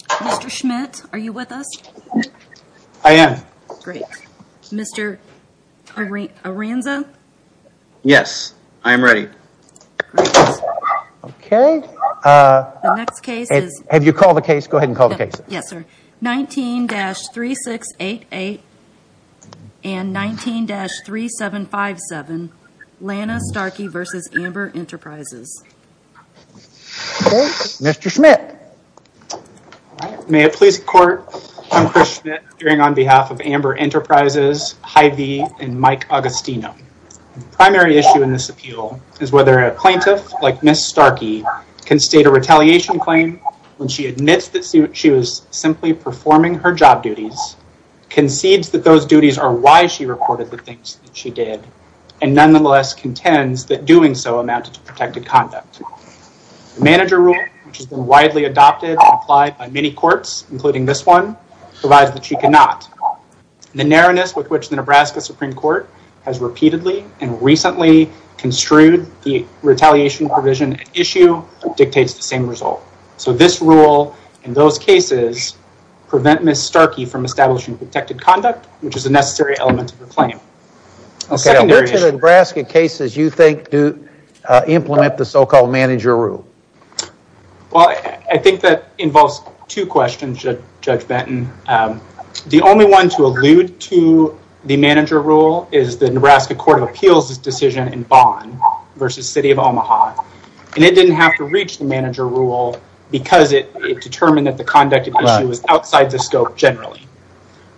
Mr. Schmidt, are you with us? I am. Great. Mr. Aranza? Yes. I am ready. Great. The next case is 19-3688 and 19-3757, Lana Starkey v. Amber Enterprises. Mr. Schmidt. May it please the court, I am Chris Schmidt, appearing on behalf of Amber Enterprises, Hy-Vee, and Mike Agostino. The primary issue in this appeal is whether a plaintiff, like Ms. Starkey, can state a retaliation claim when she admits that she was simply performing her job duties, concedes that those duties are why she reported the things that she did, and nonetheless contends that doing so amounted to protected conduct. The manager rule, which has been widely adopted and applied by many courts, including this one, provides that she cannot. The narrowness with which the Nebraska Supreme Court has repeatedly and recently construed the retaliation provision and issue dictates the same result. So this rule and those cases prevent Ms. Starkey from establishing protected conduct, which is a necessary element of the claim. Which of the Nebraska cases do you think implement the so-called manager rule? Well, I think that involves two questions, Judge Benton. The only one to allude to the manager rule is the Nebraska Court of Appeals' decision in Bond v. City of Omaha, and it didn't have to reach the manager rule because it determined that the conduct of the issue was outside the scope generally.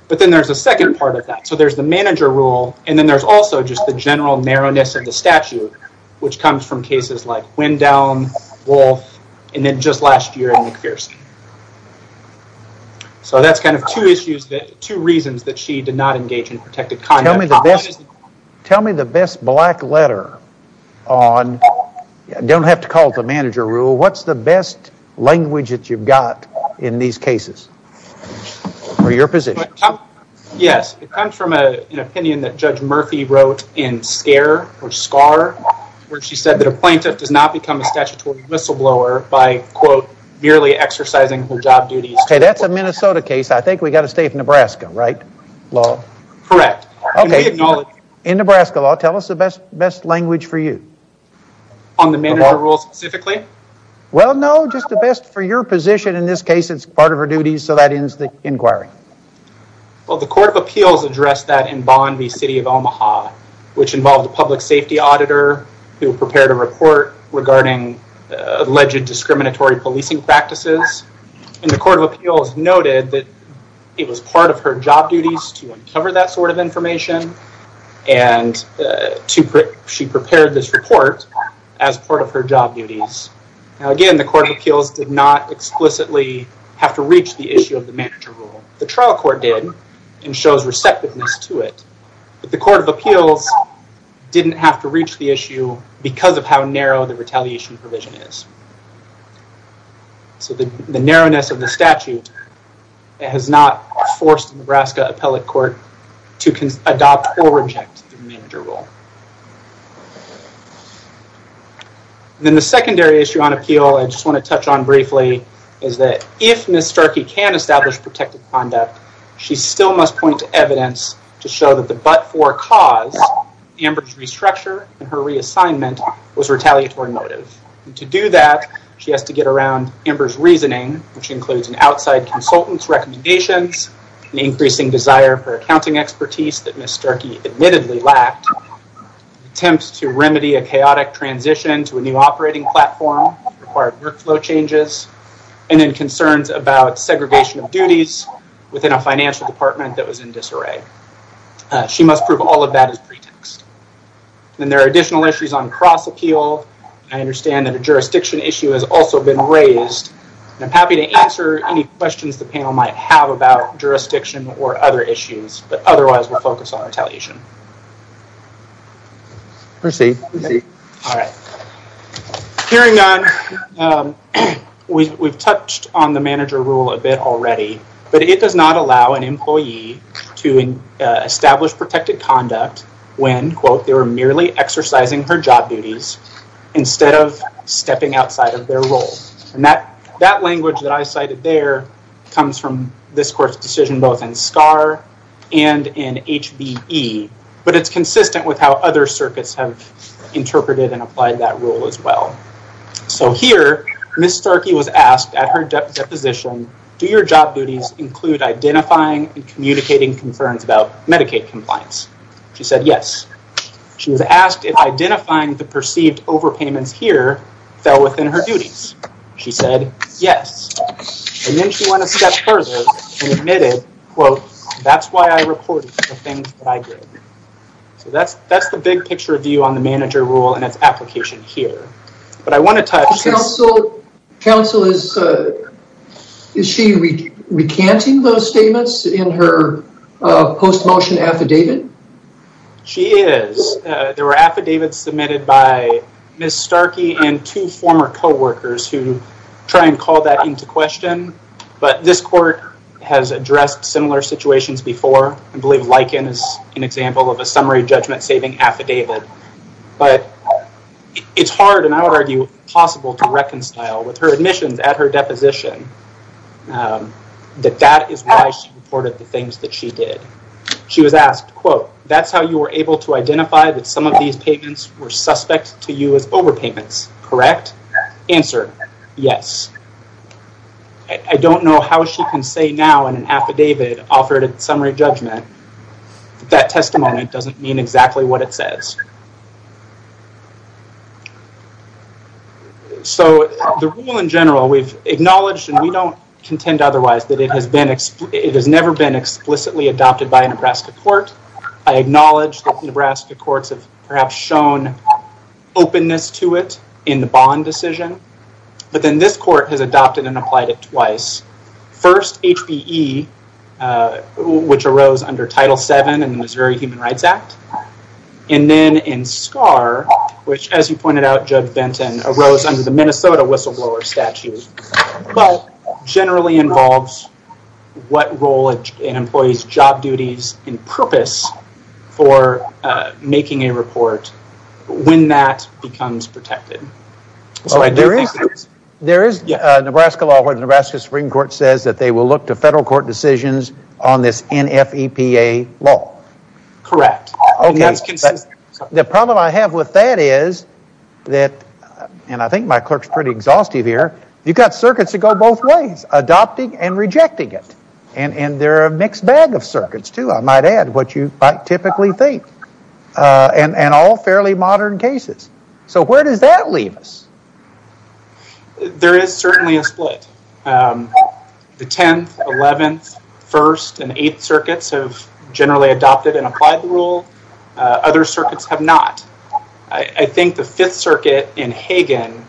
But then there's a second part of that. So there's the manager rule, and then there's also just the general narrowness of the statute, which comes from cases like Wendown, Wolfe, and then just last year in McPherson. So that's kind of two reasons that she did not engage in protected conduct. Tell me the best black letter on, you don't have to call it the manager rule, what's the best language that you've got in these cases, or your position? Yes, it comes from an opinion that Judge Murphy wrote in SCAR, where she said that a plaintiff does not become a statutory whistleblower by, quote, merely exercising her job duties. Okay, that's a Minnesota case. I think we've got to stay with Nebraska, right? Correct. Okay, in Nebraska law, tell us the best language for you. On the manager rule specifically? Well, no, just the best for your position. In this case, it's part of her duties, so that ends the inquiry. Well, the court of appeals addressed that in Bond v. City of Omaha, which involved a public safety auditor who prepared a report regarding alleged discriminatory policing practices. And the court of appeals noted that it was part of her job duties to uncover that sort of information, and she prepared this report as part of her job duties. Now, again, the court of appeals did not explicitly have to reach the issue of the manager rule. The trial court did, and shows receptiveness to it, but the court of appeals didn't have to reach the issue because of how narrow the retaliation provision is. So, the narrowness of the statute has not forced the Nebraska appellate court to adopt or reject the manager rule. Then the secondary issue on appeal, I just want to touch on briefly, is that if Ms. Starkey can establish protective conduct, she still must point to evidence to show that the but-for cause, Amber's restructure and her reassignment, was retaliatory motive. And to do that, she has to get around Amber's reasoning, which includes an outside consultant's recommendations, an increasing desire for accounting expertise that Ms. Starkey admittedly lacked, attempts to remedy a chaotic transition to a new operating platform that required workflow changes, and then concerns about segregation of duties within a financial department that was in disarray. She must prove all of that as pretext. Then there are additional issues on cross-appeal. I understand that a jurisdiction issue has also been raised. I'm happy to answer any questions the panel might have about jurisdiction or other issues, but otherwise we'll focus on retaliation. Proceed. Hearing none, we've touched on the manager rule a bit already, but it does not allow an employee to establish protective conduct when, quote, they were merely exercising her job duties instead of stepping outside of their role. And that language that I cited there comes from this court's decision both in SCAR and in HBE, but it's consistent with how other circuits have interpreted and applied that rule as well. So here, Ms. Starkey was asked at her deposition, do your job duties include identifying and communicating concerns about Medicaid compliance? She said yes. She was asked if identifying the perceived overpayments here fell within her duties. She said yes. And then she went a step further and admitted, quote, that's why I reported the things that I did. So that's the big picture view on the manager rule and its application here. But I want to touch- Counsel, is she recanting those statements in her post-motion affidavit? She is. There were affidavits submitted by Ms. Starkey and two former co-workers who try and call that into question. But this court has addressed similar situations before. I believe Lichen is an example of a summary judgment-saving affidavit. But it's hard, and I would argue possible, to reconcile with her admissions at her deposition that that is why she reported the things that she did. She was asked, quote, that's how you were able to identify that some of these payments were suspect to you as overpayments, correct? Answer, yes. I don't know how she can say now in an affidavit offered at summary judgment that that testimony doesn't mean exactly what it says. So the rule in general, we've acknowledged and we don't contend otherwise that it has never been explicitly adopted by a Nebraska court. I acknowledge that Nebraska courts have perhaps shown openness to it in the bond decision. But then this court has adopted and applied it twice. First, HBE, which arose under Title VII in the Missouri Human Rights Act. And then in SCAR, which as you pointed out, Judge Benton, arose under the Minnesota whistleblower statute. But generally involves what role an employee's job duties and purpose for making a report when that becomes protected. There is a Nebraska law where the Nebraska Supreme Court says that they will look to federal court decisions on this NFEPA law. Correct. The problem I have with that is that, and I think my clerk's pretty exhaustive here, you've got circuits that go both ways, adopting and rejecting it. And they're a mixed bag of circuits too, I might add, what you might typically think. And all fairly modern cases. So where does that leave us? There is certainly a split. The 10th, 11th, 1st, and 8th circuits have generally adopted and applied the rule. Other circuits have not. I think the 5th circuit in Hagen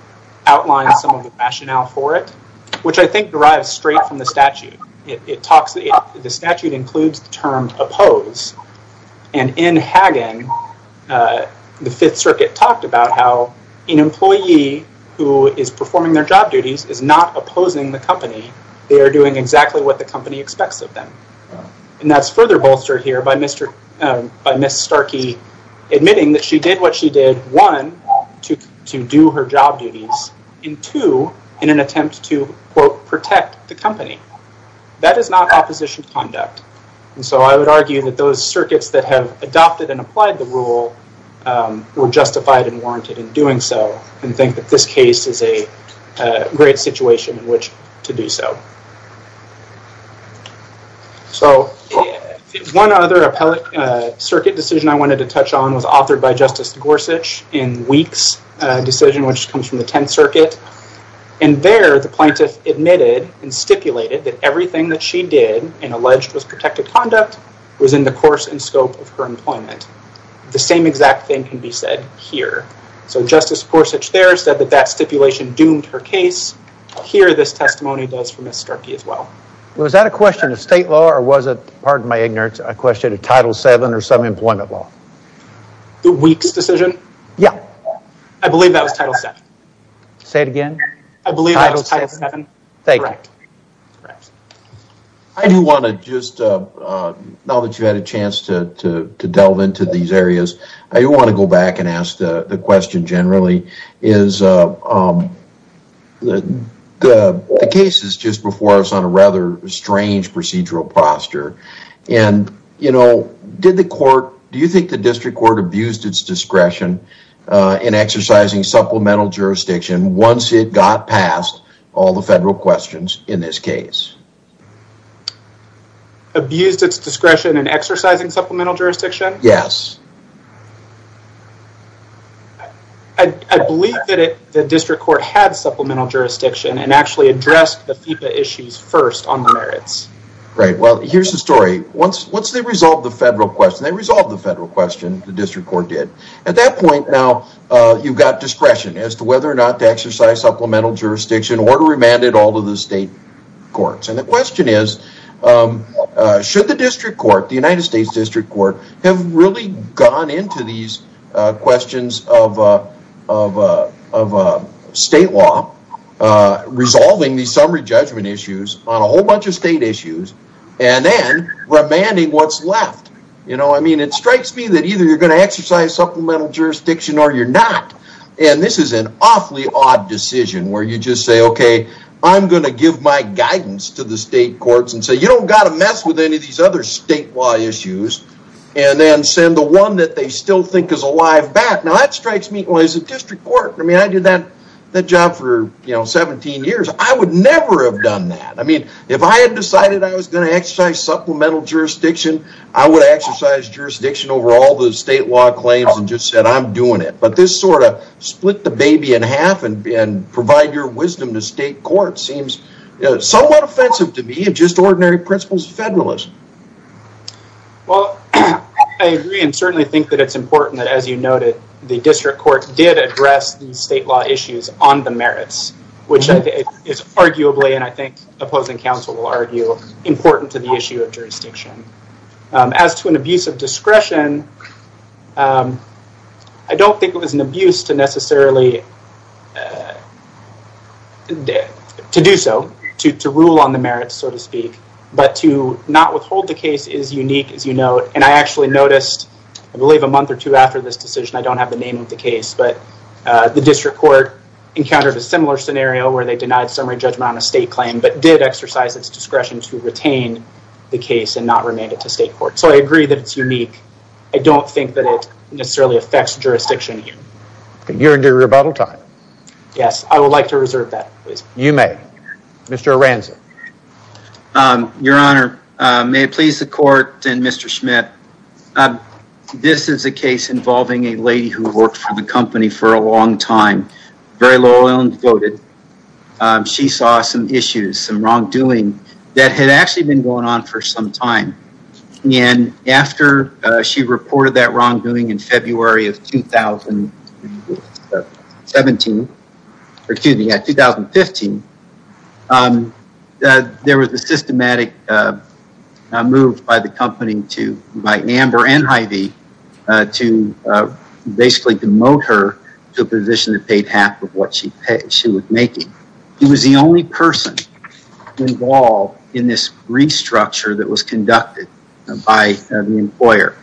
outlines some of the rationale for it, which I think derives straight from the statute. The statute includes the term oppose. And in Hagen, the 5th circuit talked about how an employee who is performing their job duties is not opposing the company. They are doing exactly what the company expects of them. And that's further bolstered here by Ms. Starkey admitting that she did what she did, one, to do her job duties, and two, in an attempt to protect the company. That is not opposition conduct. And so I would argue that those circuits that have adopted and applied the rule were justified and warranted in doing so. And think that this case is a great situation in which to do so. So one other appellate circuit decision I wanted to touch on was authored by Justice Gorsuch in Weeks decision, which comes from the 10th circuit. And there, the plaintiff admitted and stipulated that everything that she did and alleged was protected conduct was in the course and scope of her employment. The same exact thing can be said here. So Justice Gorsuch there said that that stipulation doomed her case. Here, this testimony does for Ms. Starkey as well. Was that a question of state law or was it, pardon my ignorance, a question of Title VII or some employment law? The Weeks decision? Yeah. I believe that was Title VII. Say it again? I believe that was Title VII. Thank you. Correct. I do want to just, now that you had a chance to delve into these areas, I do want to go back and ask the question generally. The case is just before us on a rather strange procedural posture. And, you know, did the court, do you think the district court abused its discretion in exercising supplemental jurisdiction once it got past all the federal questions in this case? Abused its discretion in exercising supplemental jurisdiction? Yes. I believe that the district court had supplemental jurisdiction and actually addressed the FEPA issues first on the merits. Right. Well, here's the story. Once they resolved the federal question, they resolved the federal question, the district court did. At that point now, you've got discretion as to whether or not to exercise supplemental jurisdiction or to remand it all to the state courts. And the question is, should the district court, the United States district court, have really gone into these questions of state law, resolving these summary judgment issues on a whole bunch of state issues, and then remanding what's left? You know, I mean, it strikes me that either you're going to exercise supplemental jurisdiction or you're not. And this is an awfully odd decision where you just say, okay, I'm going to give my guidance to the state courts and say, you don't got to mess with any of these other statewide issues. And then send the one that they still think is alive back. Now, that strikes me as a district court. I mean, I did that job for 17 years. I would never have done that. I mean, if I had decided I was going to exercise supplemental jurisdiction, I would exercise jurisdiction over all the state law claims and just said, I'm doing it. But this sort of split the baby in half and provide your wisdom to state courts seems somewhat offensive to me and just ordinary principles of federalism. Well, I agree and certainly think that it's important that, as you noted, the district court did address the state law issues on the merits, which is arguably, and I think opposing counsel will argue, important to the issue of jurisdiction. As to an abuse of discretion, I don't think it was an abuse to necessarily, to do so, to rule on the merits, so to speak. But to not withhold the case is unique, as you note. And I actually noticed, I believe a month or two after this decision, I don't have the name of the case. But the district court encountered a similar scenario where they denied summary judgment on a state claim, but did exercise its discretion to retain the case and not remain it to state court. So I agree that it's unique. I don't think that it necessarily affects jurisdiction here. You're into rebuttal time. Yes, I would like to reserve that. You may. Mr. Aranza. Your Honor, may it please the court and Mr. Schmidt. This is a case involving a lady who worked for the company for a long time, very loyal and devoted. She saw some issues, some wrongdoing that had actually been going on for some time. And after she reported that wrongdoing in February of 2017, excuse me, 2015, there was a systematic move by the company to, by Amber and Heidi, to basically demote her to a position that paid half of what she was making. She was the only person involved in this restructure that was conducted by the employer.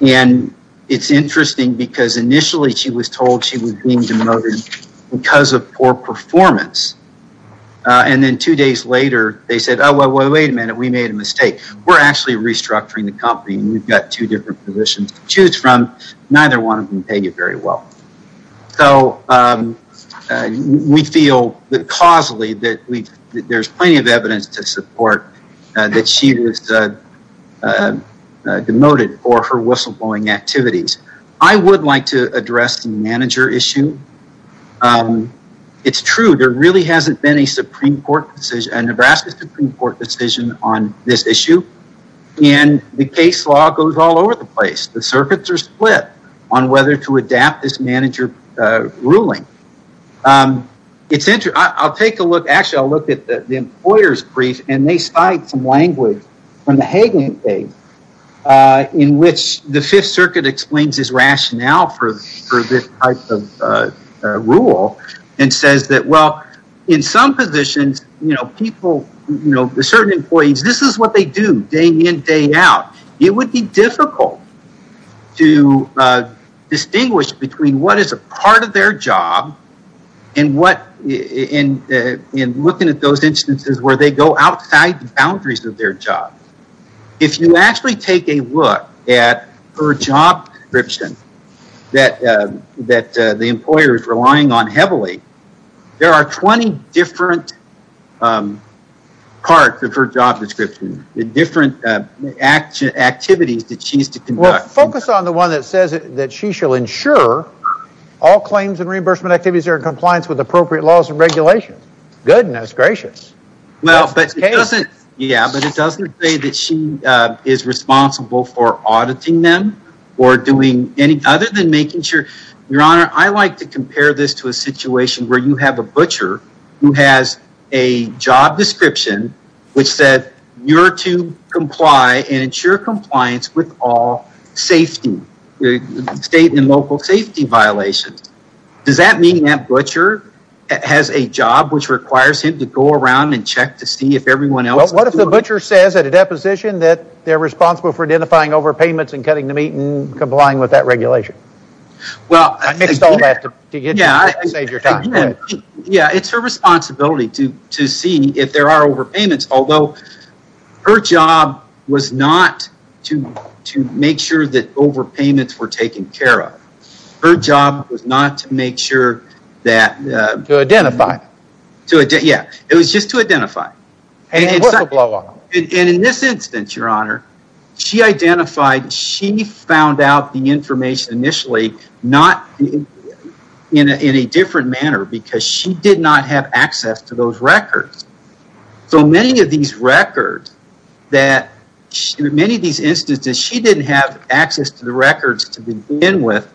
And it's interesting because initially she was told she was being demoted because of poor performance. And then two days later, they said, oh, wait a minute, we made a mistake. We're actually restructuring the company. We've got two different positions to choose from. Neither one of them pay you very well. So we feel causally that there's plenty of evidence to support that she was demoted for her whistleblowing activities. I would like to address the manager issue. It's true. There really hasn't been a Supreme Court decision, a Nebraska Supreme Court decision on this issue. And the case law goes all over the place. The circuits are split on whether to adapt this manager ruling. It's interesting. I'll take a look. Actually, I'll look at the employer's brief. And they cite some language from the Hagan case in which the Fifth Circuit explains his rationale for this type of rule and says that, well, in some positions, you know, people, you know, certain employees, this is what they do day in, day out. It would be difficult to distinguish between what is a part of their job and what in looking at those instances where they go outside the boundaries of their job. If you actually take a look at her job description that the employer is relying on heavily, there are 20 different parts of her job description, the different activities that she used to conduct. Well, focus on the one that says that she shall ensure all claims and reimbursement activities are in compliance with appropriate laws and regulations. Goodness gracious. Yeah, but it doesn't say that she is responsible for auditing them or doing any other than making sure. Your Honor, I like to compare this to a situation where you have a butcher who has a job description which said you're to comply and ensure compliance with all safety state and local safety violations. Does that mean that butcher has a job which requires him to go around and check to see if everyone else... Well, what if the butcher says at a deposition that they're responsible for identifying overpayments and cutting the meat and complying with that regulation? Well... I mixed all that to save your time. Yeah, it's her responsibility to see if there are overpayments. Although, her job was not to make sure that overpayments were taken care of. Her job was not to make sure that... To identify. Yeah, it was just to identify. And it was a blow-off. And in this instance, Your Honor, she identified, she found out the information initially not in a different manner because she did not have access to those records. So many of these records that... Many of these instances, she didn't have access to the records to begin with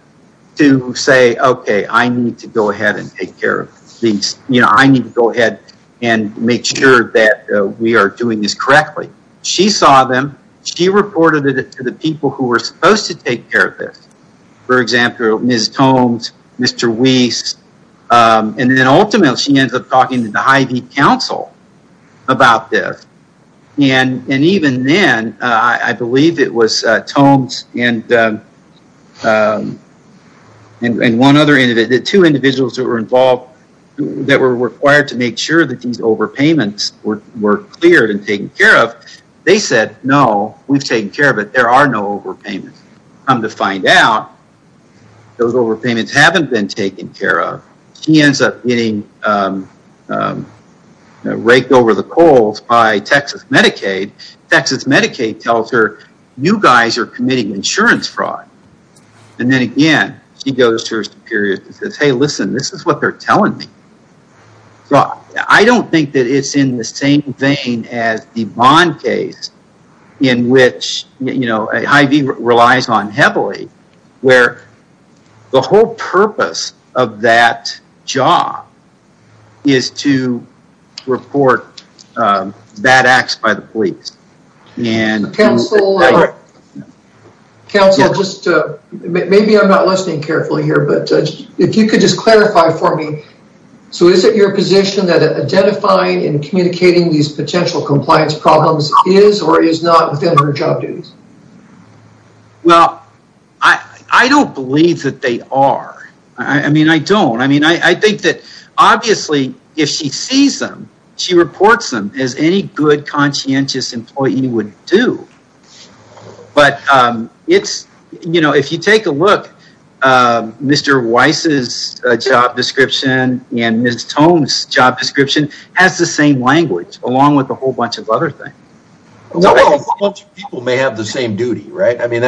to say, okay, I need to go ahead and take care of these. You know, I need to go ahead and make sure that we are doing this correctly. She saw them. She reported it to the people who were supposed to take care of this. For example, Ms. Tomes, Mr. Weiss. And then ultimately, she ends up talking to the Hy-Vee Council about this. And even then, I believe it was Tomes and one other... The two individuals that were involved that were required to make sure that these overpayments were cleared and taken care of. They said, no, we've taken care of it. There are no overpayments. Come to find out, those overpayments haven't been taken care of. She ends up getting raked over the coals by Texas Medicaid. Texas Medicaid tells her, you guys are committing insurance fraud. And then again, she goes to her superiors and says, hey, listen, this is what they're telling me. I don't think that it's in the same vein as the Bond case. In which, you know, Hy-Vee relies on heavily. Where the whole purpose of that job is to report bad acts by the police. Council, maybe I'm not listening carefully here, but if you could just clarify for me. So is it your position that identifying and communicating these potential compliance problems is or is not within her job duties? Well, I don't believe that they are. I mean, I don't. I mean, I think that obviously if she sees them, she reports them as any good conscientious employee would do. But it's, you know, if you take a look, Mr. Weiss's job description and Ms. Tome's job description has the same language. Along with a whole bunch of other things. A whole bunch of people may have the same duty, right? I mean,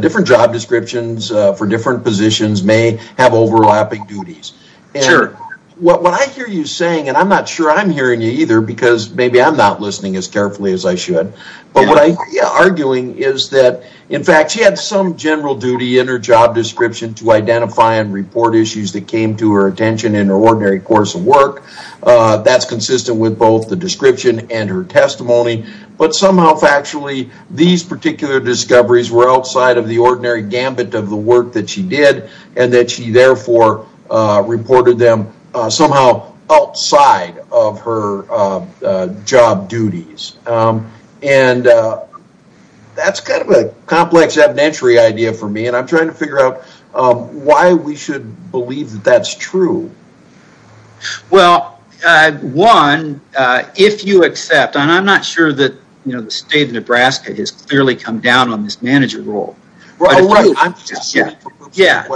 different job descriptions for different positions may have overlapping duties. Sure. What I hear you saying, and I'm not sure I'm hearing you either because maybe I'm not listening as carefully as I should. But what I hear you arguing is that, in fact, she had some general duty in her job description to identify and report issues that came to her attention in her ordinary course of work. That's consistent with both the description and her testimony. But somehow, factually, these particular discoveries were outside of the ordinary gambit of the work that she did. And that she, therefore, reported them somehow outside of her job duties. And that's kind of a complex evidentiary idea for me. And I'm trying to figure out why we should believe that that's true. Well, one, if you accept, and I'm not sure that the state of Nebraska has clearly come down on this manager role. Oh, right. Yeah.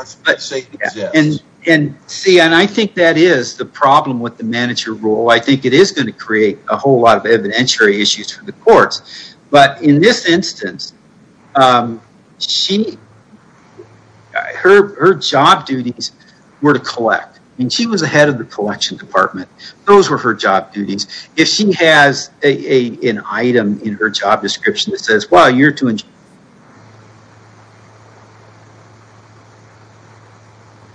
And see, and I think that is the problem with the manager role. I think it is going to create a whole lot of evidentiary issues for the courts. But in this instance, her job duties were to collect. I mean, she was the head of the collection department. Those were her job duties. If she has an item in her job description that says, well, you're doing.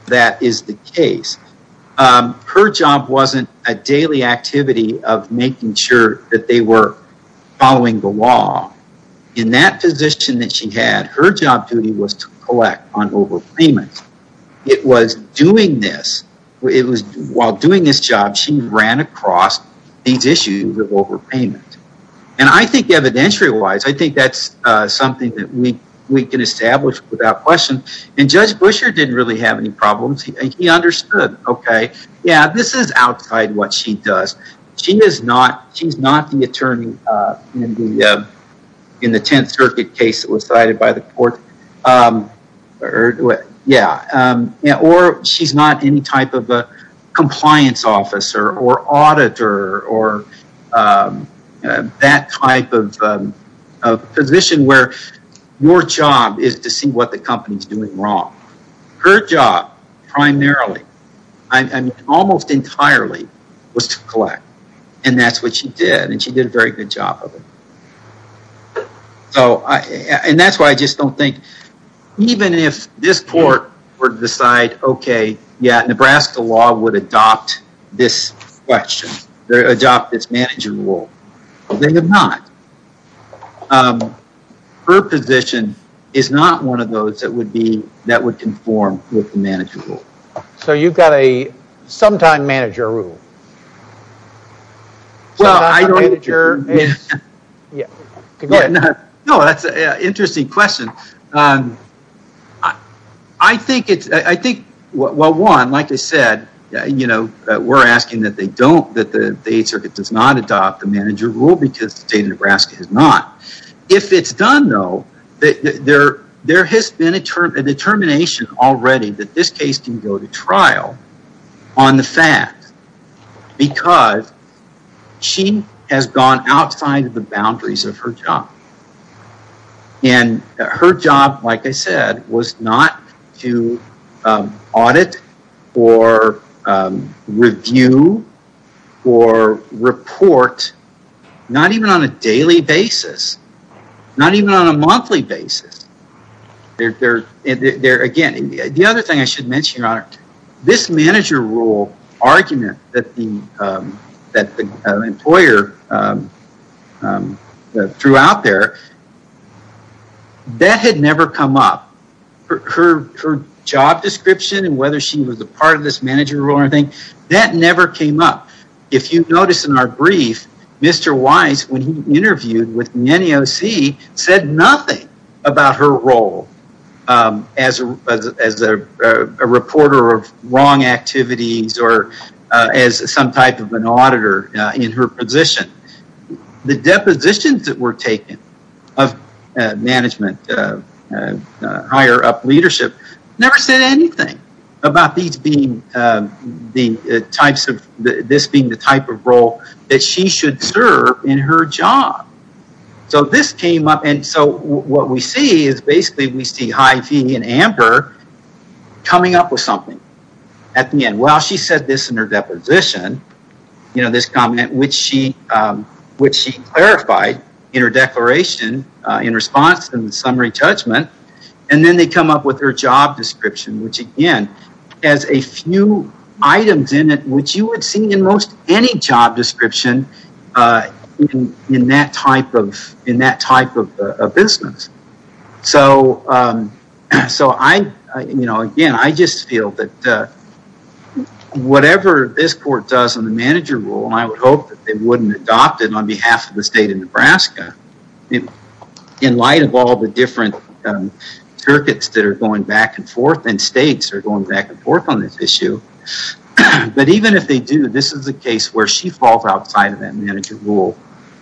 That is the case. Her job wasn't a daily activity of making sure that they were following the law. In that position that she had, her job duty was to collect on overpayment. It was doing this. It was while doing this job, she ran across these issues of overpayment. And I think evidentiary-wise, I think that's something that we can establish without question. And Judge Buescher didn't really have any problems. He understood. Okay. Yeah, this is outside what she does. She is not the attorney in the Tenth Circuit case that was cited by the court. Or she's not any type of a compliance officer or auditor or that type of position where your job is to see what the company is doing wrong. Her job primarily, almost entirely, was to collect. And that's what she did. And she did a very good job of it. And that's why I just don't think, even if this court were to decide, okay, yeah, Nebraska law would adopt this question, adopt this manager role. They did not. Her position is not one of those that would conform with the manager role. So you've got a sometime manager role. Go ahead. No, that's an interesting question. I think, well, one, like I said, we're asking that they don't, that the Eighth Circuit does not adopt the manager role because the state of Nebraska has not. If it's done, though, there has been a determination already that this case can go to trial on the fact because she has gone outside of the boundaries of her job. And her job, like I said, was not to audit or review or report, not even on a daily basis, not even on a monthly basis. Again, the other thing I should mention, Your Honor, this manager role argument that the employer threw out there, that had never come up. Her job description and whether she was a part of this manager role or anything, that never came up. If you notice in our brief, Mr. Wise, when he interviewed with NEOC, said nothing about her role as a reporter of wrong activities or as some type of an auditor in her position. The depositions that were taken of management, higher up leadership, never said anything about this being the type of role that she should serve in her job. So this came up. And so what we see is basically we see Hy-Vee and Amber coming up with something at the end. Well, she said this in her deposition, you know, this comment, which she clarified in her declaration in response to the summary judgment. And then they come up with her job description, which, again, has a few items in it, which you would see in most any job description in that type of business. So, you know, again, I just feel that whatever this court does on the manager role, and I would hope that they wouldn't adopt it on behalf of the state of Nebraska, in light of all the different circuits that are going back and forth, and states are going back and forth on this issue. But even if they do, this is a case where she falls outside of that manager role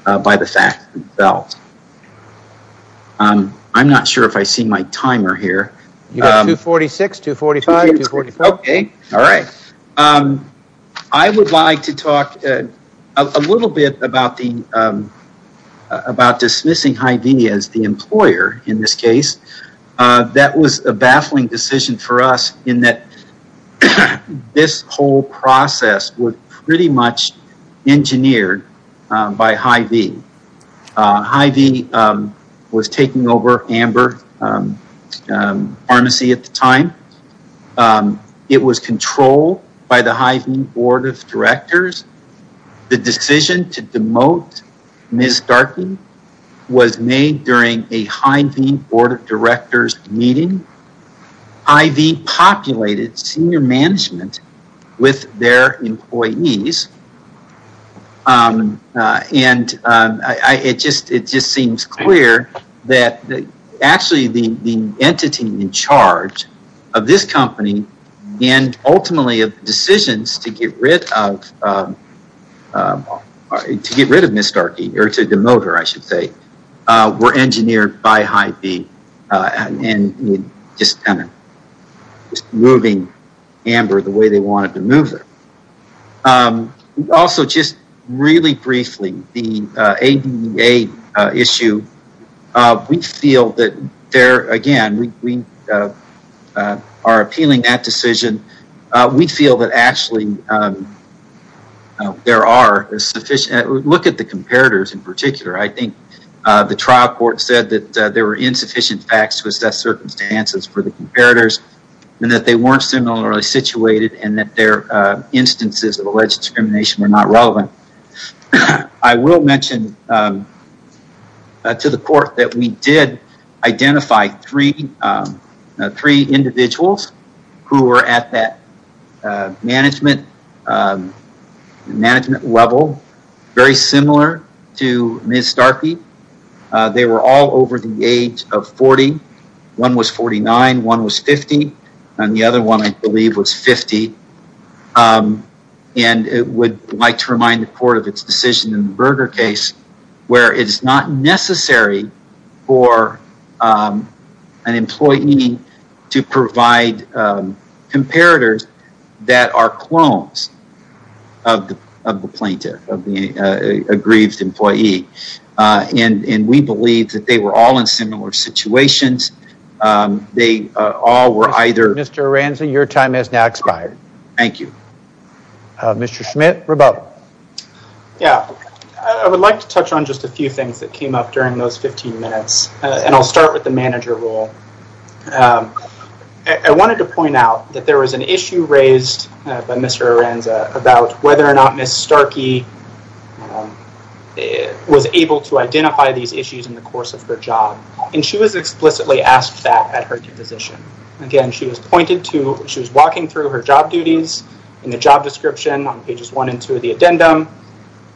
by the fact itself. I'm not sure if I see my timer here. You got 246, 245, 245. Okay. All right. I would like to talk a little bit about dismissing Hy-Vee as the employer in this case. That was a baffling decision for us in that this whole process was pretty much engineered by Hy-Vee. Hy-Vee was taking over Amber Pharmacy at the time. It was controlled by the Hy-Vee Board of Directors. The decision to demote Ms. Starkey was made during a Hy-Vee Board of Directors meeting. Hy-Vee populated senior management with their employees. And it just seems clear that actually the entity in charge of this company and ultimately of the decisions to get rid of Ms. Starkey, or to demote her, I should say, were engineered by Hy-Vee and just moving Amber the way they wanted to move her. Also, just really briefly, the ADA issue, we feel that there, again, we are appealing that decision. We feel that actually there are sufficient, look at the comparators in particular. I think the trial court said that there were insufficient facts to assess circumstances for the comparators and that they weren't similarly situated and that their instances of alleged discrimination were not relevant. I will mention to the court that we did identify three individuals who were at that management level, very similar to Ms. Starkey. They were all over the age of 40. One was 49, one was 50, and the other one, I believe, was 50. And I would like to remind the court of its decision in the Berger case where it is not necessary for an employee to provide comparators that are clones of the plaintiff, of the aggrieved employee. And we believe that they were all in similar situations. Mr. Aranzi, your time has now expired. Thank you. Mr. Schmidt, rebuttal. Yeah, I would like to touch on just a few things that came up during those 15 minutes, and I'll start with the manager role. I wanted to point out that there was an issue raised by Mr. Aranzi about whether or not Ms. Starkey was able to identify these issues in the course of her job. And she was explicitly asked that at her deposition. Again, she was walking through her job duties in the job description on pages one and two of the addendum,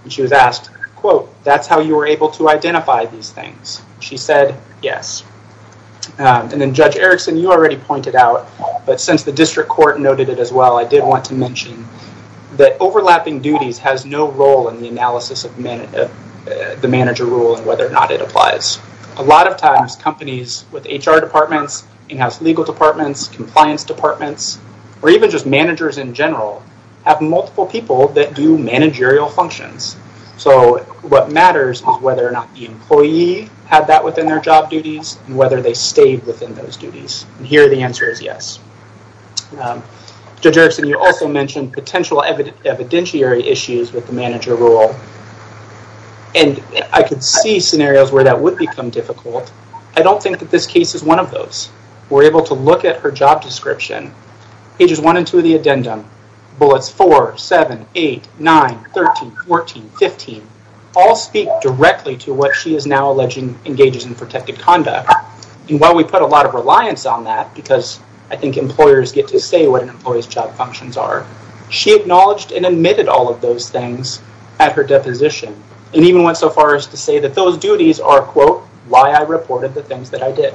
and she was asked, quote, that's how you were able to identify these things. She said, yes. And then Judge Erickson, you already pointed out, but since the district court noted it as well, I did want to mention that overlapping duties has no role in the analysis of the manager role and whether or not it applies. A lot of times, companies with HR departments, in-house legal departments, compliance departments, or even just managers in general, have multiple people that do managerial functions. So what matters is whether or not the employee had that within their job duties and whether they stayed within those duties. And here, the answer is yes. Judge Erickson, you also mentioned potential evidentiary issues with the manager role. And I could see scenarios where that would become difficult. I don't think that this case is one of those. We're able to look at her job description, pages one and two of the addendum, bullets four, seven, eight, nine, 13, 14, 15, all speak directly to what she is now alleging engages in protected conduct. And while we put a lot of reliance on that, because I think employers get to say what an employee's job functions are, she acknowledged and admitted all of those things at her deposition and even went so far as to say that those duties are, quote, why I reported the things that I did.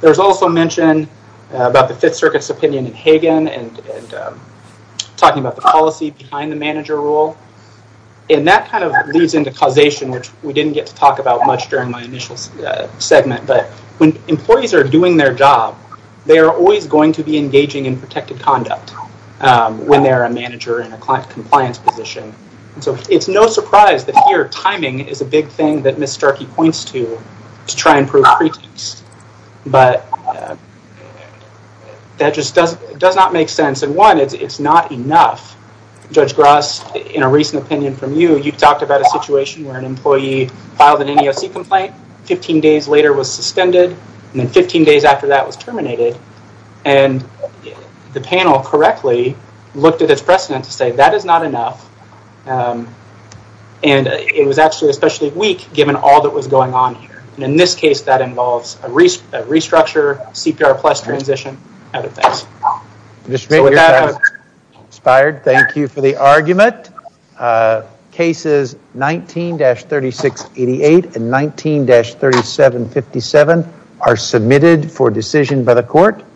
There was also mention about the Fifth Circuit's opinion in Hagan and talking about the policy behind the manager role. And that kind of leads into causation, which we didn't get to talk about much during my initial segment. But when employees are doing their job, they are always going to be engaging in protected conduct. When they're a manager in a compliance position. And so it's no surprise that here timing is a big thing that Ms. Starkey points to to try and prove pretense. But that just does not make sense. And one, it's not enough. Judge Gross, in a recent opinion from you, you talked about a situation where an employee filed an NEOC complaint, 15 days later was suspended, and then 15 days after that was terminated. And the panel correctly looked at its precedent to say, that is not enough. And it was actually especially weak, given all that was going on here. And in this case, that involves a restructure, CPR plus transition, other things. So with that, I'm inspired. Thank you for the argument. Cases 19-3688 and 19-3757 are submitted for decision by the court. Court is adjourned.